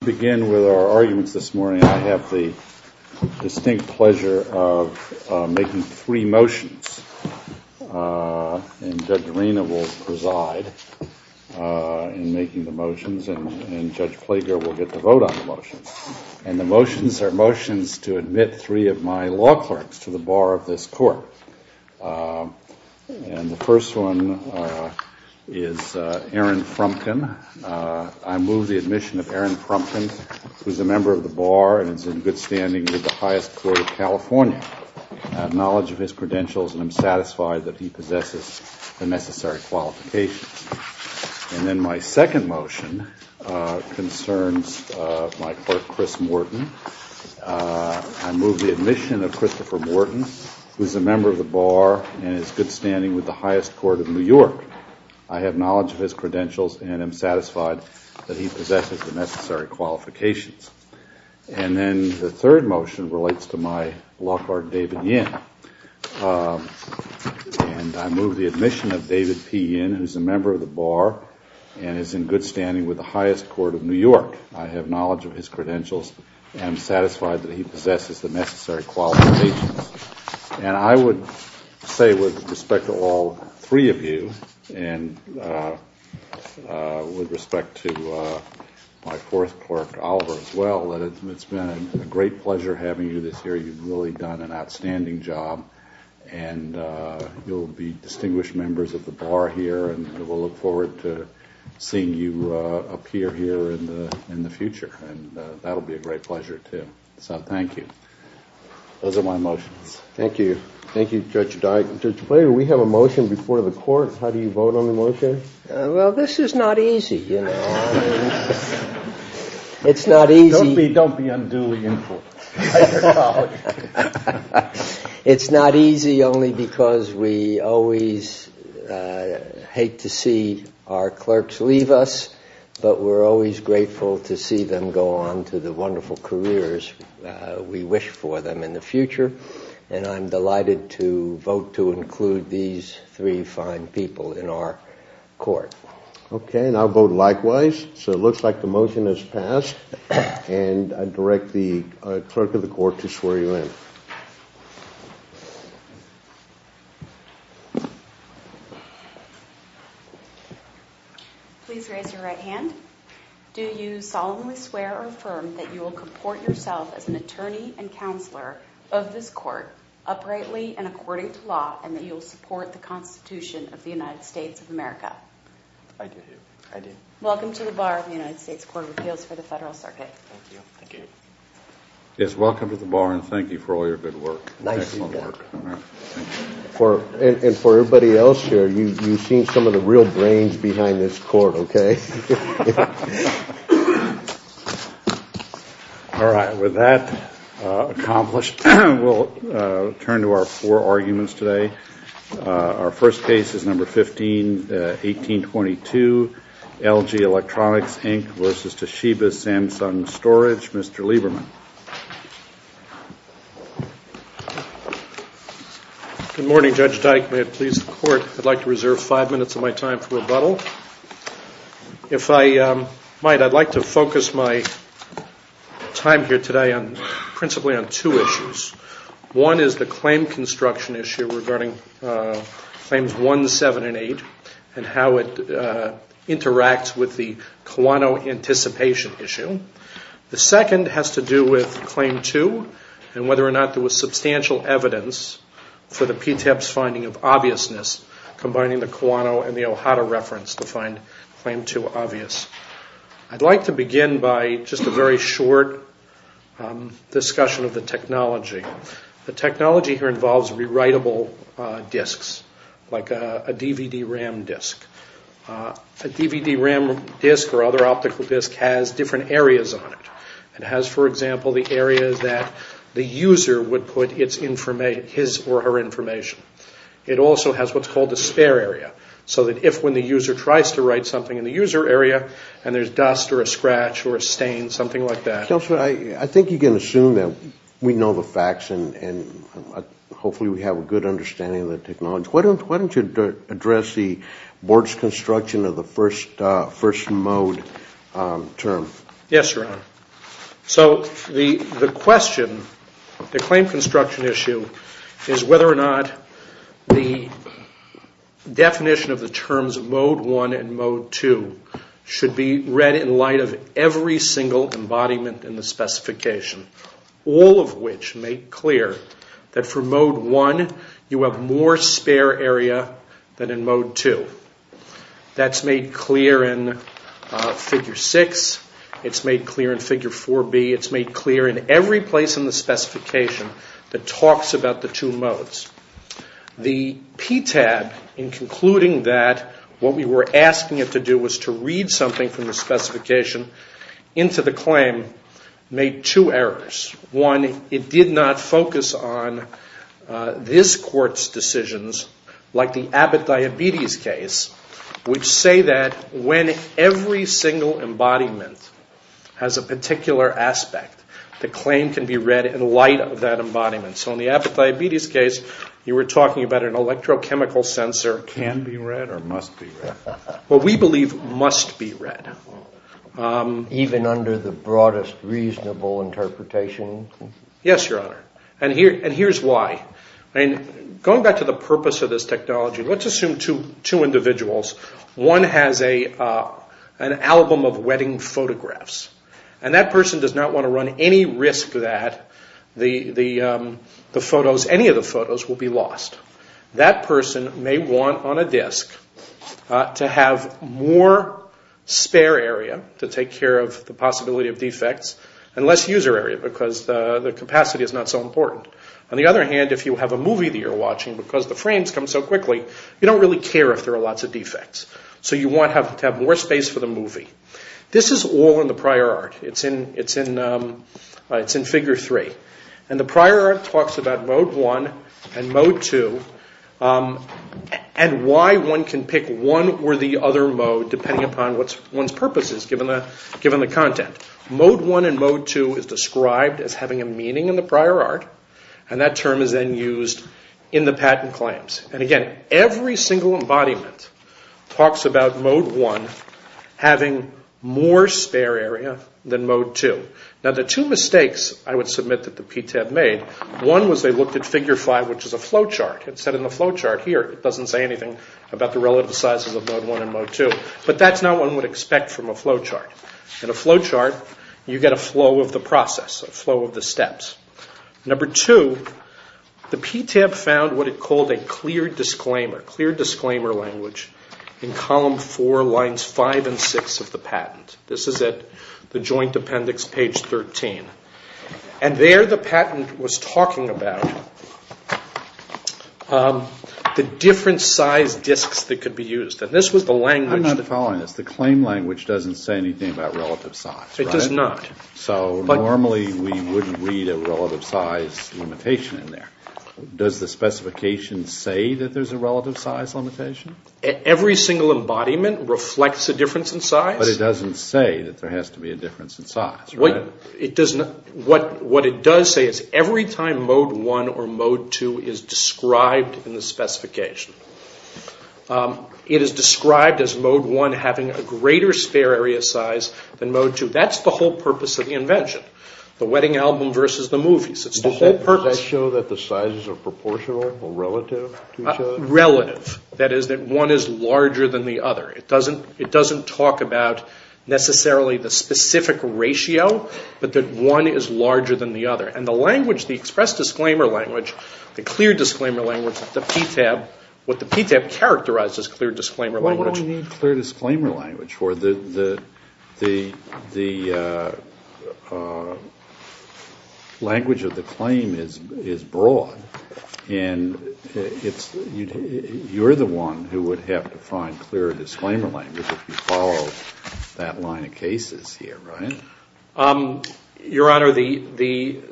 To begin with our arguments this morning, I have the distinct pleasure of making three motions. And Judge Arena will preside in making the motions, and Judge Plager will get the vote on the motions. And the motions are motions to admit three of my law clerks to the bar of this court. And the first one is Aaron Frumkin. I move the admission of Aaron Frumkin, who is a member of the bar and is in good standing with the highest court of California. I have knowledge of his credentials and am satisfied that he possesses the necessary qualifications. And then my second motion concerns my clerk, Chris Morton. I move the admission of Christopher Morton, who is a member of the bar and is in good standing with the highest court of New York. I have knowledge of his credentials and am satisfied that he possesses the necessary qualifications. And then the third motion relates to my law clerk, David Yin. And I move the admission of David P. Yin, who is a member of the bar and is in good standing with the highest court of New York. I have knowledge of his credentials and am satisfied that he possesses the necessary qualifications. And I would say with respect to all three of you and with respect to my fourth clerk, Oliver, as well, that it's been a great pleasure having you this year. You've really done an outstanding job. And you'll be distinguished members of the bar here, and we'll look forward to seeing you appear here in the future. And that'll be a great pleasure, too. So thank you. Those are my motions. Thank you. Thank you, Judge Dyer. Judge Blader, we have a motion before the court. How do you vote on the motion? Well, this is not easy, you know. It's not easy. Don't be unduly important. It's not easy only because we always hate to see our clerks leave us, but we're always grateful to see them go on to the wonderful careers we wish for them in the future. And I'm delighted to vote to include these three fine people in our court. Okay. And I'll vote likewise. So it looks like the motion has passed, and I direct the clerk of the court to swear you in. Please raise your right hand. Do you solemnly swear or affirm that you will comport yourself as an attorney and counselor of this court, uprightly and according to law, and that you will support the Constitution of the United States of America? I do. I do. Welcome to the bar of the United States Court of Appeals for the Federal Circuit. Thank you. Thank you. Yes, welcome to the bar, and thank you for all your good work. Nice work. And for everybody else here, you've seen some of the real brains behind this court, okay? All right. With that accomplished, we'll turn to our four arguments today. Our first case is No. 15-1822, LG Electronics, Inc. v. Toshiba Samsung Storage. Mr. Lieberman. Good morning, Judge Dike. May it please the court, I'd like to reserve five minutes of my time for rebuttal. If I might, I'd like to focus my time here today principally on two issues. One is the claim construction issue regarding Claims 1, 7, and 8 and how it interacts with the Kiwano anticipation issue. The second has to do with Claim 2 and whether or not there was substantial evidence for the PTEP's finding of obviousness, combining the Kiwano and the O'Hara reference to find Claim 2 obvious. I'd like to begin by just a very short discussion of the technology. The technology here involves rewritable disks, like a DVD-RAM disk. A DVD-RAM disk or other optical disk has different areas on it. It has, for example, the area that the user would put his or her information. It also has what's called a spare area, so that if when the user tries to write something in the user area and there's dust or a scratch or a stain, something like that. I think you can assume that we know the facts and hopefully we have a good understanding of the technology. Why don't you address the board's construction of the first mode term? Yes, Your Honor. So the question, the claim construction issue, is whether or not the definition of the terms Mode 1 and Mode 2 should be read in light of every single embodiment in the specification, all of which make clear that for Mode 1 you have more spare area than in Mode 2. That's made clear in Figure 6. It's made clear in Figure 4B. It's made clear in every place in the specification that talks about the two modes. The PTAB, in concluding that what we were asking it to do was to read something from the specification into the claim, made two errors. One, it did not focus on this Court's decisions, like the Abbott diabetes case, which say that when every single embodiment has a particular aspect, the claim can be read in light of that embodiment. So in the Abbott diabetes case, you were talking about an electrochemical sensor. Can be read or must be read? What we believe must be read. Even under the broadest reasonable interpretation? Yes, Your Honor, and here's why. Going back to the purpose of this technology, let's assume two individuals. One has an album of wedding photographs, and that person does not want to run any risk that any of the photos will be lost. That person may want on a disk to have more spare area to take care of the possibility of defects and less user area because the capacity is not so important. On the other hand, if you have a movie that you're watching, because the frames come so quickly, you don't really care if there are lots of defects. So you want to have more space for the movie. This is all in the prior art. It's in figure three. And the prior art talks about mode one and mode two and why one can pick one or the other mode depending upon one's purposes given the content. Mode one and mode two is described as having a meaning in the prior art. And that term is then used in the patent claims. And again, every single embodiment talks about mode one having more spare area than mode two. Now, the two mistakes I would submit that the PTAB made, one was they looked at figure five, which is a flowchart. It said in the flowchart here it doesn't say anything about the relative sizes of mode one and mode two. But that's not what one would expect from a flowchart. In a flowchart, you get a flow of the process, a flow of the steps. Number two, the PTAB found what it called a clear disclaimer, clear disclaimer language in column four, lines five and six of the patent. This is at the joint appendix, page 13. And there the patent was talking about the different size disks that could be used. And this was the language. I'm not following this. The claim language doesn't say anything about relative size, right? It does not. Okay. So normally we wouldn't read a relative size limitation in there. Does the specification say that there's a relative size limitation? Every single embodiment reflects a difference in size. But it doesn't say that there has to be a difference in size, right? What it does say is every time mode one or mode two is described in the specification, it is described as mode one having a greater spare area size than mode two. That's the whole purpose of the invention, the wedding album versus the movies. It's the whole purpose. Does that show that the sizes are proportional or relative to each other? Relative. That is that one is larger than the other. It doesn't talk about necessarily the specific ratio, but that one is larger than the other. And the language, the express disclaimer language, the clear disclaimer language, the PTAB, what the PTAB characterized as clear disclaimer language. What do we need clear disclaimer language for? The language of the claim is broad, and you're the one who would have to find clear disclaimer language if you follow that line of cases here, right? Your Honor, the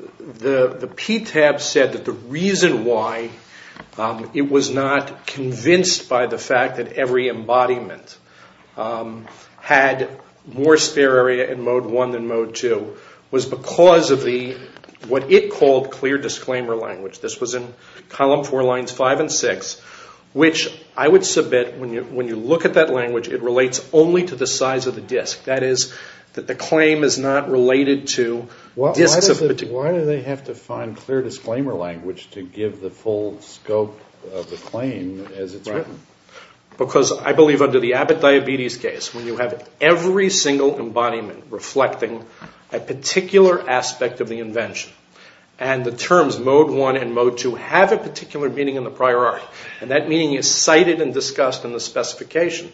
PTAB said that the reason why it was not convinced by the fact that every embodiment had more spare area in mode one than mode two was because of what it called clear disclaimer language. This was in column four lines five and six, which I would submit when you look at that language, it relates only to the size of the disk. That is that the claim is not related to disk of particular. Why do they have to find clear disclaimer language to give the full scope of the claim as it's written? Because I believe under the Abbott diabetes case, when you have every single embodiment reflecting a particular aspect of the invention, and the terms mode one and mode two have a particular meaning in the prior art, and that meaning is cited and discussed in the specification,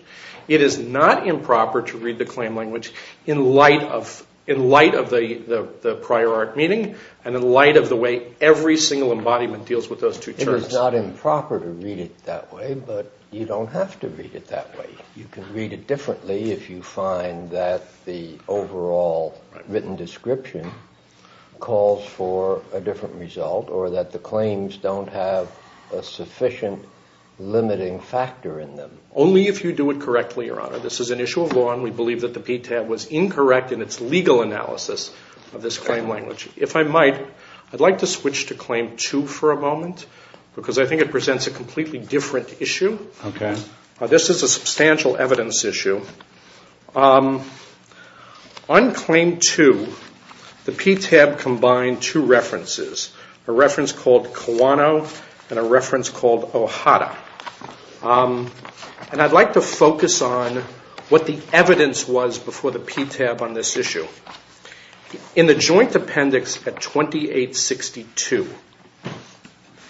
it is not improper to read the claim language in light of the prior art meaning and in light of the way every single embodiment deals with those two terms. It is not improper to read it that way, but you don't have to read it that way. You can read it differently if you find that the overall written description calls for a different result or that the claims don't have a sufficient limiting factor in them. Only if you do it correctly, Your Honor. This is an issue of law and we believe that the PTAB was incorrect in its legal analysis of this claim language. If I might, I'd like to switch to Claim 2 for a moment because I think it presents a completely different issue. This is a substantial evidence issue. On Claim 2, the PTAB combined two references, a reference called Kawano and a reference called Ohara. And I'd like to focus on what the evidence was before the PTAB on this issue. In the joint appendix at 2862,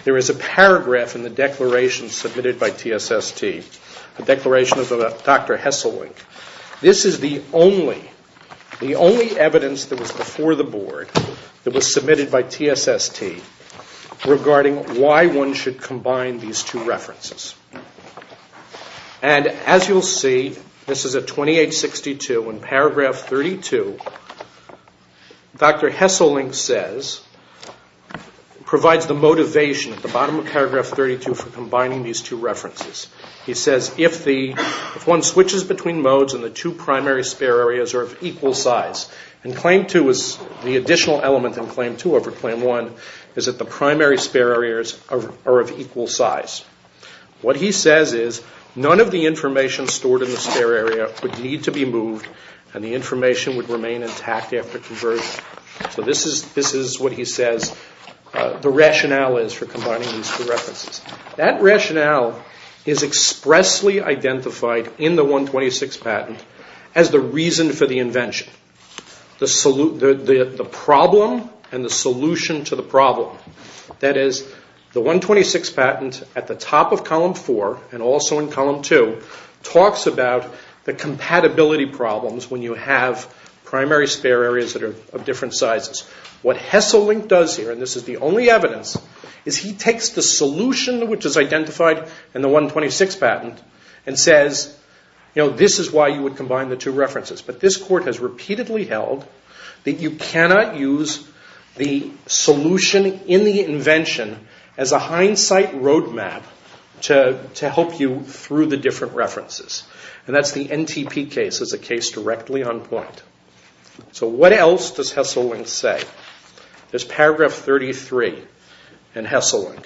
there is a paragraph in the declaration submitted by TSST, a declaration of Dr. Hesselink. This is the only evidence that was before the Board that was submitted by TSST regarding why one should combine these two references. And as you'll see, this is at 2862, in paragraph 32, Dr. Hesselink says, provides the motivation at the bottom of paragraph 32 for combining these two references. He says, if one switches between modes and the two primary spare areas are of equal size, and Claim 2 is the additional element in Claim 2 over Claim 1, is that the primary spare areas are of equal size. What he says is none of the information stored in the spare area would need to be moved and the information would remain intact after conversion. So this is what he says the rationale is for combining these two references. That rationale is expressly identified in the 126 patent as the reason for the invention. The problem and the solution to the problem. That is, the 126 patent at the top of column 4 and also in column 2 talks about the compatibility problems when you have primary spare areas that are of different sizes. What Hesselink does here, and this is the only evidence, is he takes the solution which is identified in the 126 patent and says, this is why you would combine the two references. But this court has repeatedly held that you cannot use the solution in the invention as a hindsight roadmap to help you through the different references. And that's the NTP case as a case directly on point. So what else does Hesselink say? There's paragraph 33 in Hesselink.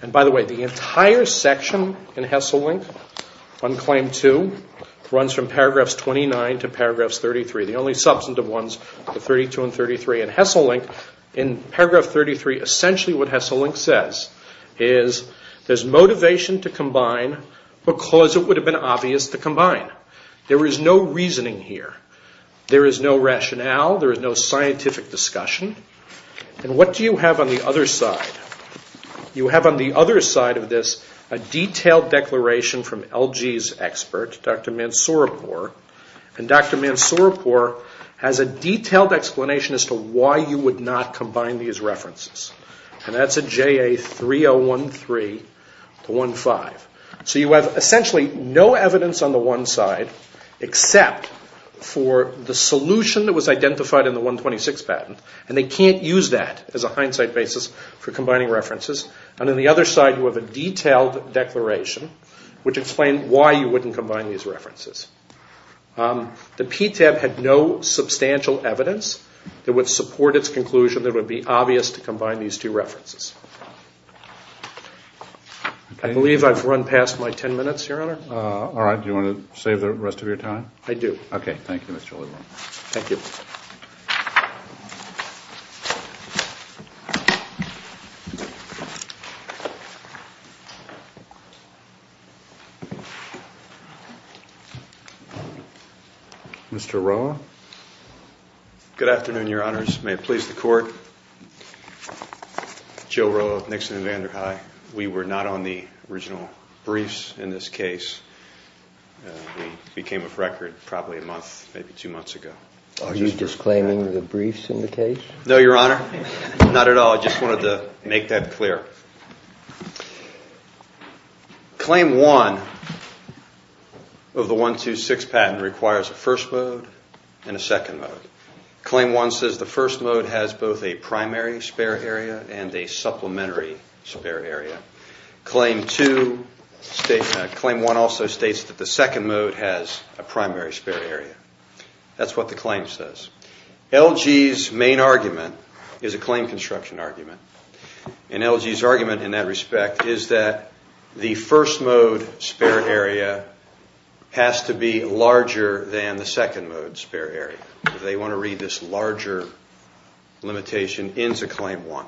And by the way, the entire section in Hesselink on claim 2 runs from paragraph 29 to paragraph 33. The only substantive ones are 32 and 33. In Hesselink, in paragraph 33, essentially what Hesselink says is there's motivation to combine because it would have been obvious to combine. There is no reasoning here. There is no rationale. There is no scientific discussion. And what do you have on the other side? You have on the other side of this a detailed declaration from LG's expert, Dr. Mansoorapur. And Dr. Mansoorapur has a detailed explanation as to why you would not combine these references. And that's at JA 3013 to 15. So you have essentially no evidence on the one side except for the solution that was identified in the 126 patent. And they can't use that as a hindsight basis for combining references. And on the other side you have a detailed declaration which explains why you wouldn't combine these references. The PTAB had no substantial evidence that would support its conclusion that it would be obvious to combine these two references. I believe I've run past my ten minutes, Your Honor. All right. Do you want to save the rest of your time? I do. Okay. Thank you, Mr. Lebrun. Thank you. Mr. Roa. Good afternoon, Your Honors. May it please the Court. Joe Roa of Nixon and Vander High. We were not on the original briefs in this case. We came off record probably a month, maybe two months ago. Are you disclaiming the briefs in the case? No, Your Honor. Not at all. I just wanted to make that clear. Claim one of the 126 patent requires a first mode and a second mode. Claim one says the first mode has both a primary spare area and a supplementary spare area. Claim one also states that the second mode has a primary spare area. That's what the claim says. LG's main argument is a claim construction argument. And LG's argument in that respect is that the first mode spare area has to be larger than the second mode spare area. They want to read this larger limitation into claim one.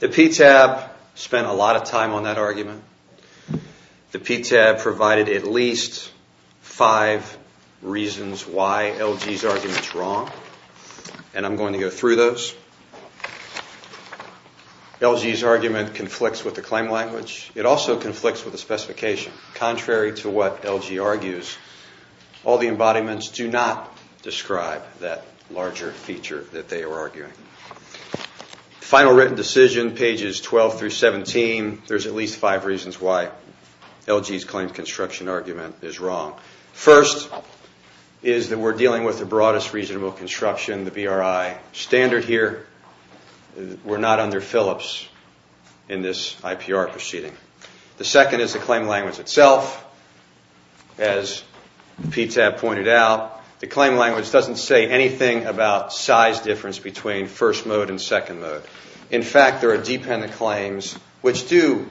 The PTAB spent a lot of time on that argument. The PTAB provided at least five reasons why LG's argument is wrong. And I'm going to go through those. LG's argument conflicts with the claim language. It also conflicts with the specification. Contrary to what LG argues, all the embodiments do not describe that larger feature that they are arguing. Final written decision, pages 12 through 17, there's at least five reasons why LG's claim construction argument is wrong. First is that we're dealing with the broadest reasonable construction, the BRI standard here. We're not under Phillips in this IPR proceeding. The second is the claim language itself. As PTAB pointed out, the claim language doesn't say anything about size difference between first mode and second mode. In fact, there are dependent claims which do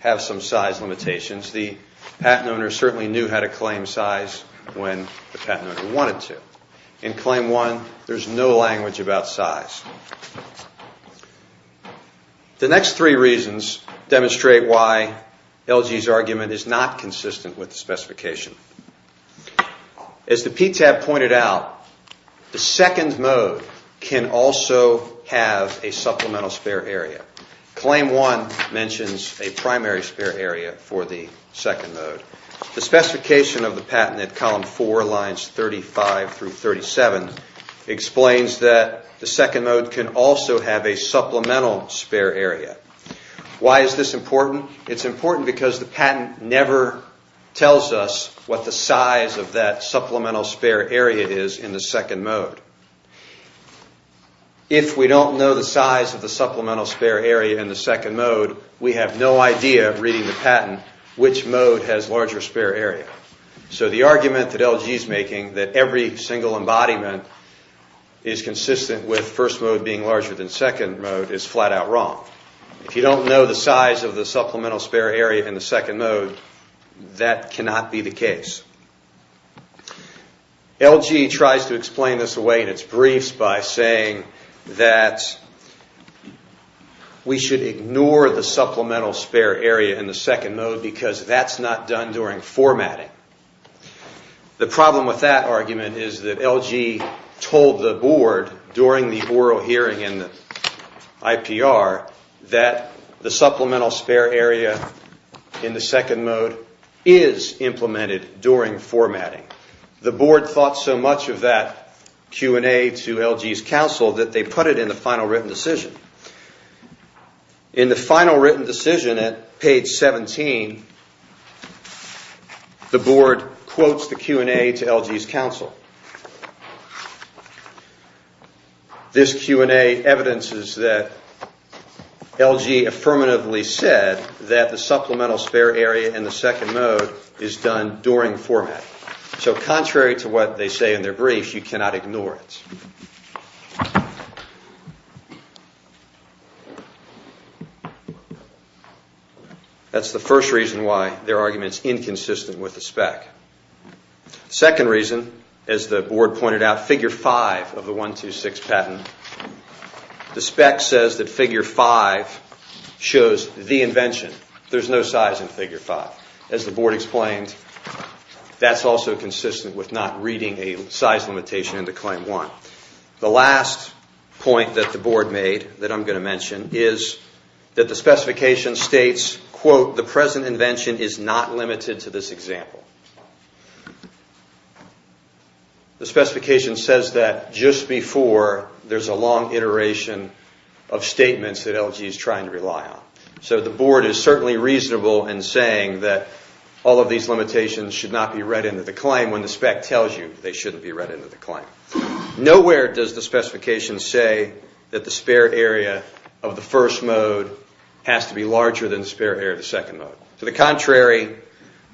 have some size limitations. The patent owner certainly knew how to claim size when the patent owner wanted to. In claim one, there's no language about size. The next three reasons demonstrate why LG's argument is not consistent with the specification. As the PTAB pointed out, the second mode can also have a supplemental spare area. Claim one mentions a primary spare area for the second mode. The specification of the patent at column four, lines 35 through 37, explains that the second mode can also have a supplemental spare area. Why is this important? It's important because the patent never tells us what the size of that supplemental spare area is in the second mode. If we don't know the size of the supplemental spare area in the second mode, we have no idea, reading the patent, which mode has larger spare area. So the argument that LG is making, that every single embodiment is consistent with first mode being larger than second mode, is flat out wrong. If you don't know the size of the supplemental spare area in the second mode, that cannot be the case. LG tries to explain this away in its briefs by saying that we should ignore the supplemental spare area in the second mode because that's not done during formatting. The problem with that argument is that LG told the board during the oral hearing in the IPR that the supplemental spare area in the second mode is implemented during formatting. The board thought so much of that Q&A to LG's counsel that they put it in the final written decision. In the final written decision at page 17, the board quotes the Q&A to LG's counsel. This Q&A evidences that LG affirmatively said that the supplemental spare area in the second mode is done during formatting. So contrary to what they say in their brief, you cannot ignore it. That's the first reason why their argument is inconsistent with the spec. The second reason, as the board pointed out, figure 5 of the 126 patent, the spec says that figure 5 shows the invention. There's no size in figure 5. As the board explained, that's also consistent with not reading a size limitation into claim 1. The last point that the board made that I'm going to mention is that the specification states, quote, the present invention is not limited to this example. The specification says that just before there's a long iteration of statements that LG is trying to rely on. So the board is certainly reasonable in saying that all of these limitations should not be read into the claim when the spec tells you they shouldn't be read into the claim. Nowhere does the specification say that the spare area of the first mode has to be larger than the spare area of the second mode. To the contrary,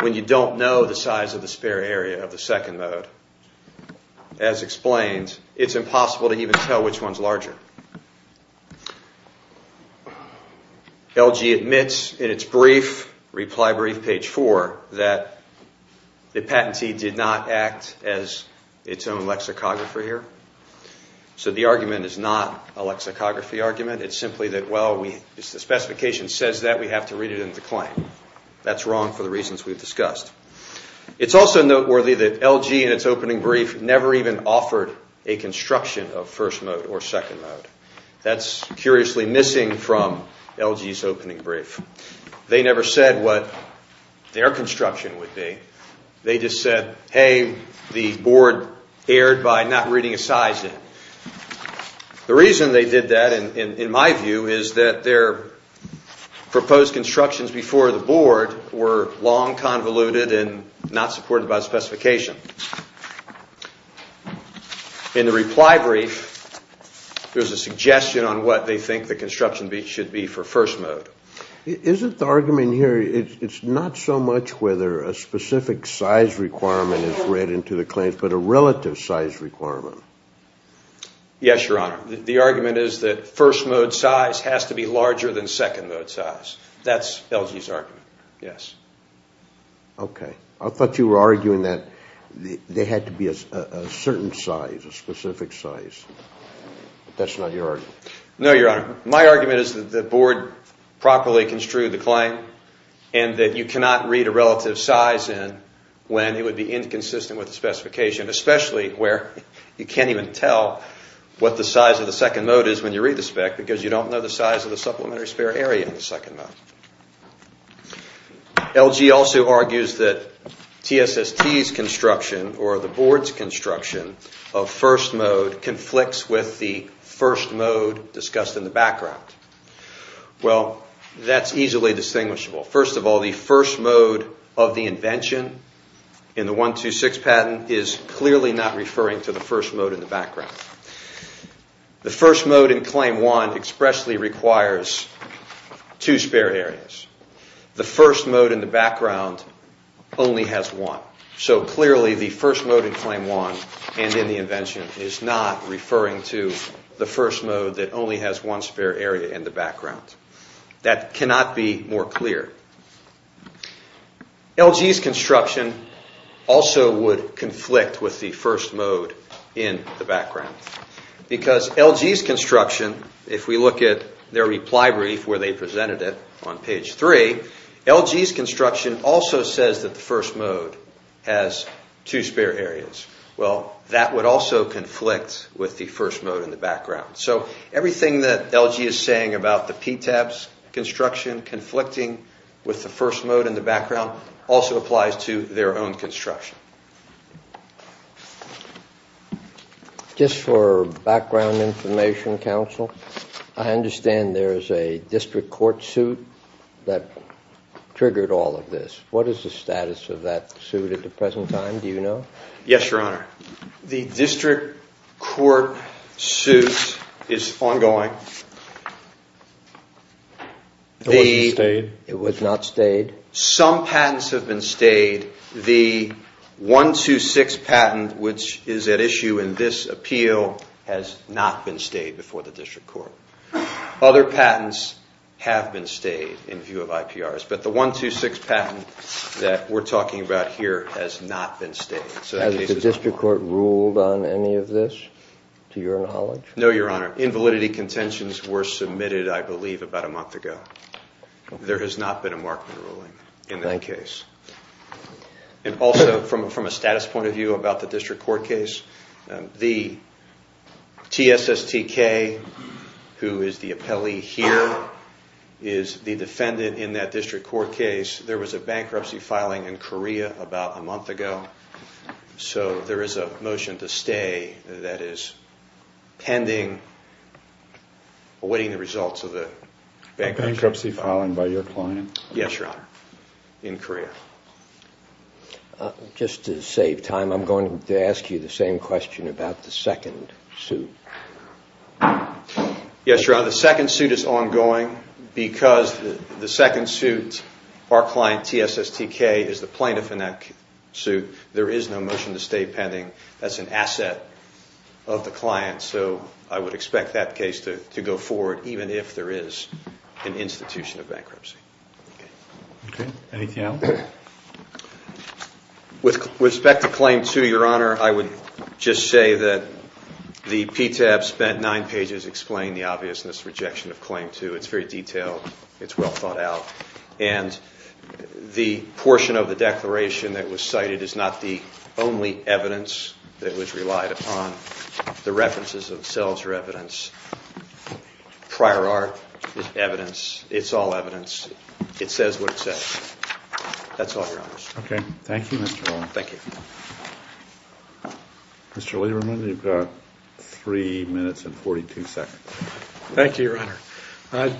when you don't know the size of the spare area of the second mode, as explained, it's impossible to even tell which one's larger. LG admits in its brief, reply brief, page 4, that the patentee did not act as its own lexicographer here. So the argument is not a lexicography argument. It's simply that, well, if the specification says that, we have to read it into claim. That's wrong for the reasons we've discussed. It's also noteworthy that LG, in its opening brief, never even offered a construction of first mode or second mode. That's curiously missing from LG's opening brief. They never said what their construction would be. They just said, hey, the board erred by not reading a size in. The reason they did that, in my view, is that their proposed constructions before the board were long convoluted and not supported by the specification. In the reply brief, there's a suggestion on what they think the construction should be for first mode. Isn't the argument here, it's not so much whether a specific size requirement is read into the claims, but a relative size requirement? Yes, Your Honor. The argument is that first mode size has to be larger than second mode size. That's LG's argument, yes. Okay. I thought you were arguing that there had to be a certain size, a specific size. That's not your argument. No, Your Honor. My argument is that the board properly construed the claim and that you cannot read a relative size in when it would be inconsistent with the specification, especially where you can't even tell what the size of the second mode is when you read the spec because you don't know the size of the supplementary spare area in the second mode. LG also argues that TSST's construction or the board's construction of first mode conflicts with the first mode discussed in the background. Well, that's easily distinguishable. First of all, the first mode of the invention in the 126 patent The first mode in Claim 1 expressly requires two spare areas. The first mode in the background only has one. So clearly the first mode in Claim 1 and in the invention is not referring to the first mode that only has one spare area in the background. That cannot be more clear. LG's construction also would conflict with the first mode in the background because LG's construction, if we look at their reply brief where they presented it on page 3, LG's construction also says that the first mode has two spare areas. Well, that would also conflict with the first mode in the background. So everything that LG is saying about the PTAB's construction conflicting with the first mode in the background also applies to their own construction. Just for background information, Counsel, I understand there is a district court suit that triggered all of this. What is the status of that suit at the present time, do you know? Yes, Your Honor. The district court suit is ongoing. It was not stayed? It was not stayed. Some patents have been stayed. The 126 patent, which is at issue in this appeal, has not been stayed before the district court. Other patents have been stayed in view of IPRs, but the 126 patent that we're talking about here has not been stayed. Has the district court ruled on any of this, to your knowledge? No, Your Honor. Invalidity contentions were submitted, I believe, about a month ago. There has not been a markman ruling in that case. And also, from a status point of view about the district court case, the TSSTK, who is the appellee here, is the defendant in that district court case. There was a bankruptcy filing in Korea about a month ago, so there is a motion to stay that is pending, awaiting the results of the bankruptcy. A bankruptcy filing by your client? Yes, Your Honor, in Korea. Just to save time, I'm going to ask you the same question about the second suit. Yes, Your Honor, the second suit is ongoing because the second suit, our client, TSSTK, is the plaintiff in that suit. There is no motion to stay pending. That's an asset of the client, so I would expect that case to go forward, even if there is an institution of bankruptcy. Okay. Anything else? With respect to Claim 2, Your Honor, I would just say that the PTAB spent nine pages explaining the obviousness of rejection of Claim 2. It's very detailed. It's well thought out. And the portion of the declaration that was cited is not the only evidence that was relied upon. The references themselves are evidence. Prior art is evidence. It's all evidence. It says what it says. That's all, Your Honor. Okay. Thank you, Mr. Rowland. Thank you. Mr. Lieberman, you've got three minutes and 42 seconds. Thank you, Your Honor.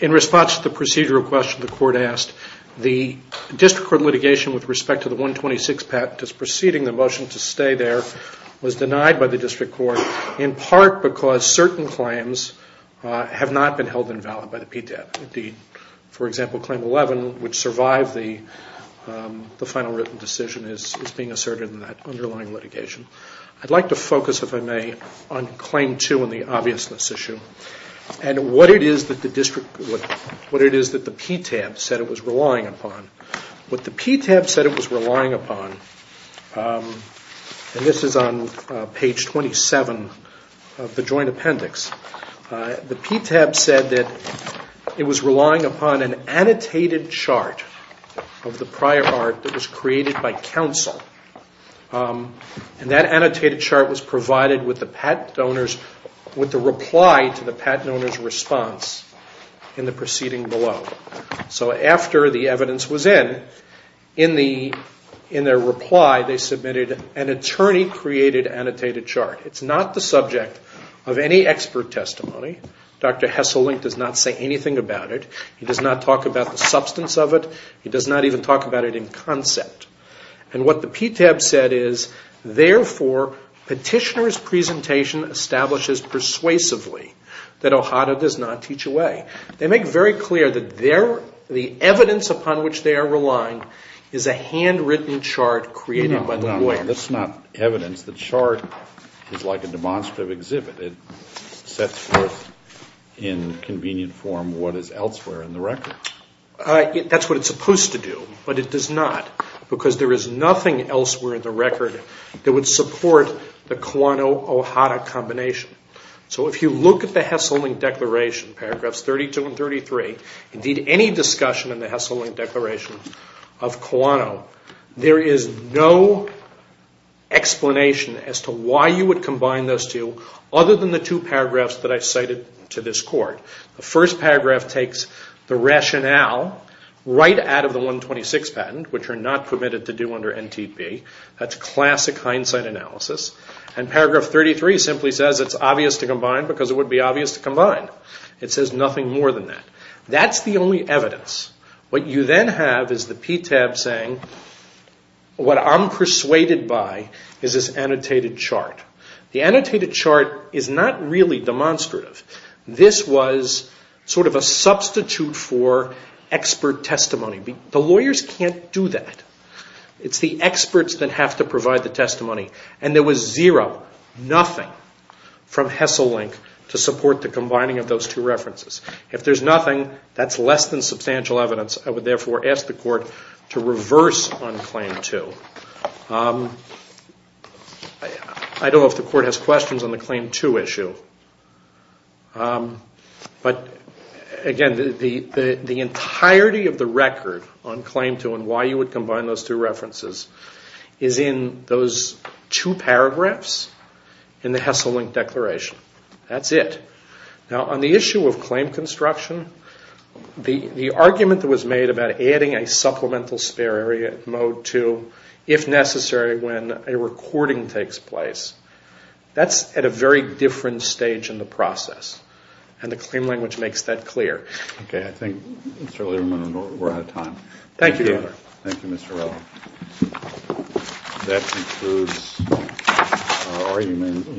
In response to the procedural question the Court asked, the District Court litigation with respect to the 126 patent that's preceding the motion to stay there was denied by the District Court, in part because certain claims have not been held invalid by the PTAB. For example, Claim 11, which survived the final written decision, is being asserted in that underlying litigation. I'd like to focus, if I may, on Claim 2 and the obviousness issue and what it is that the PTAB said it was relying upon. What the PTAB said it was relying upon, and this is on page 27 of the joint It was relying upon an annotated chart of the prior art that was created by counsel. And that annotated chart was provided with the reply to the patent owner's response in the proceeding below. So after the evidence was in, in their reply, they submitted an attorney-created annotated chart. It's not the subject of any expert testimony. Dr. Hesselink does not say anything about it. He does not talk about the substance of it. He does not even talk about it in concept. And what the PTAB said is, therefore petitioner's presentation establishes persuasively that O'Hara does not teach away. They make very clear that the evidence upon which they are relying is a handwritten chart created by the lawyer. No, no, that's not evidence. The chart is like a demonstrative exhibit. It sets forth in convenient form what is elsewhere in the record. That's what it's supposed to do. But it does not because there is nothing elsewhere in the record that would support the Kawano-O'Hara combination. So if you look at the Hesselink Declaration, paragraphs 32 and 33, indeed any discussion in the Hesselink Declaration of Kawano, there is no explanation as to why you would combine those two other than the two paragraphs that I cited to this court. The first paragraph takes the rationale right out of the 126 patent, which you're not permitted to do under NTP. That's classic hindsight analysis. And paragraph 33 simply says it's obvious to combine because it would be obvious to combine. It says nothing more than that. That's the only evidence. What you then have is the PTAB saying, what I'm persuaded by is this annotated chart. The annotated chart is not really demonstrative. This was sort of a substitute for expert testimony. The lawyers can't do that. It's the experts that have to provide the testimony. And there was zero, nothing from Hesselink to support the combining of those two references. If there's nothing, that's less than substantial evidence. I would therefore ask the court to reverse on claim two. I don't know if the court has questions on the claim two issue. But, again, the entirety of the record on claim two and why you would combine those two references is in those two paragraphs in the Hesselink declaration. That's it. Now, on the issue of claim construction, the argument that was made about adding a supplemental spare area at mode two, if necessary, when a recording takes place, that's at a very different stage in the process. And the claim language makes that clear. I think, Mr. Lieberman, we're out of time. Thank you. Thank you, Mr. Rowland. That concludes our argument.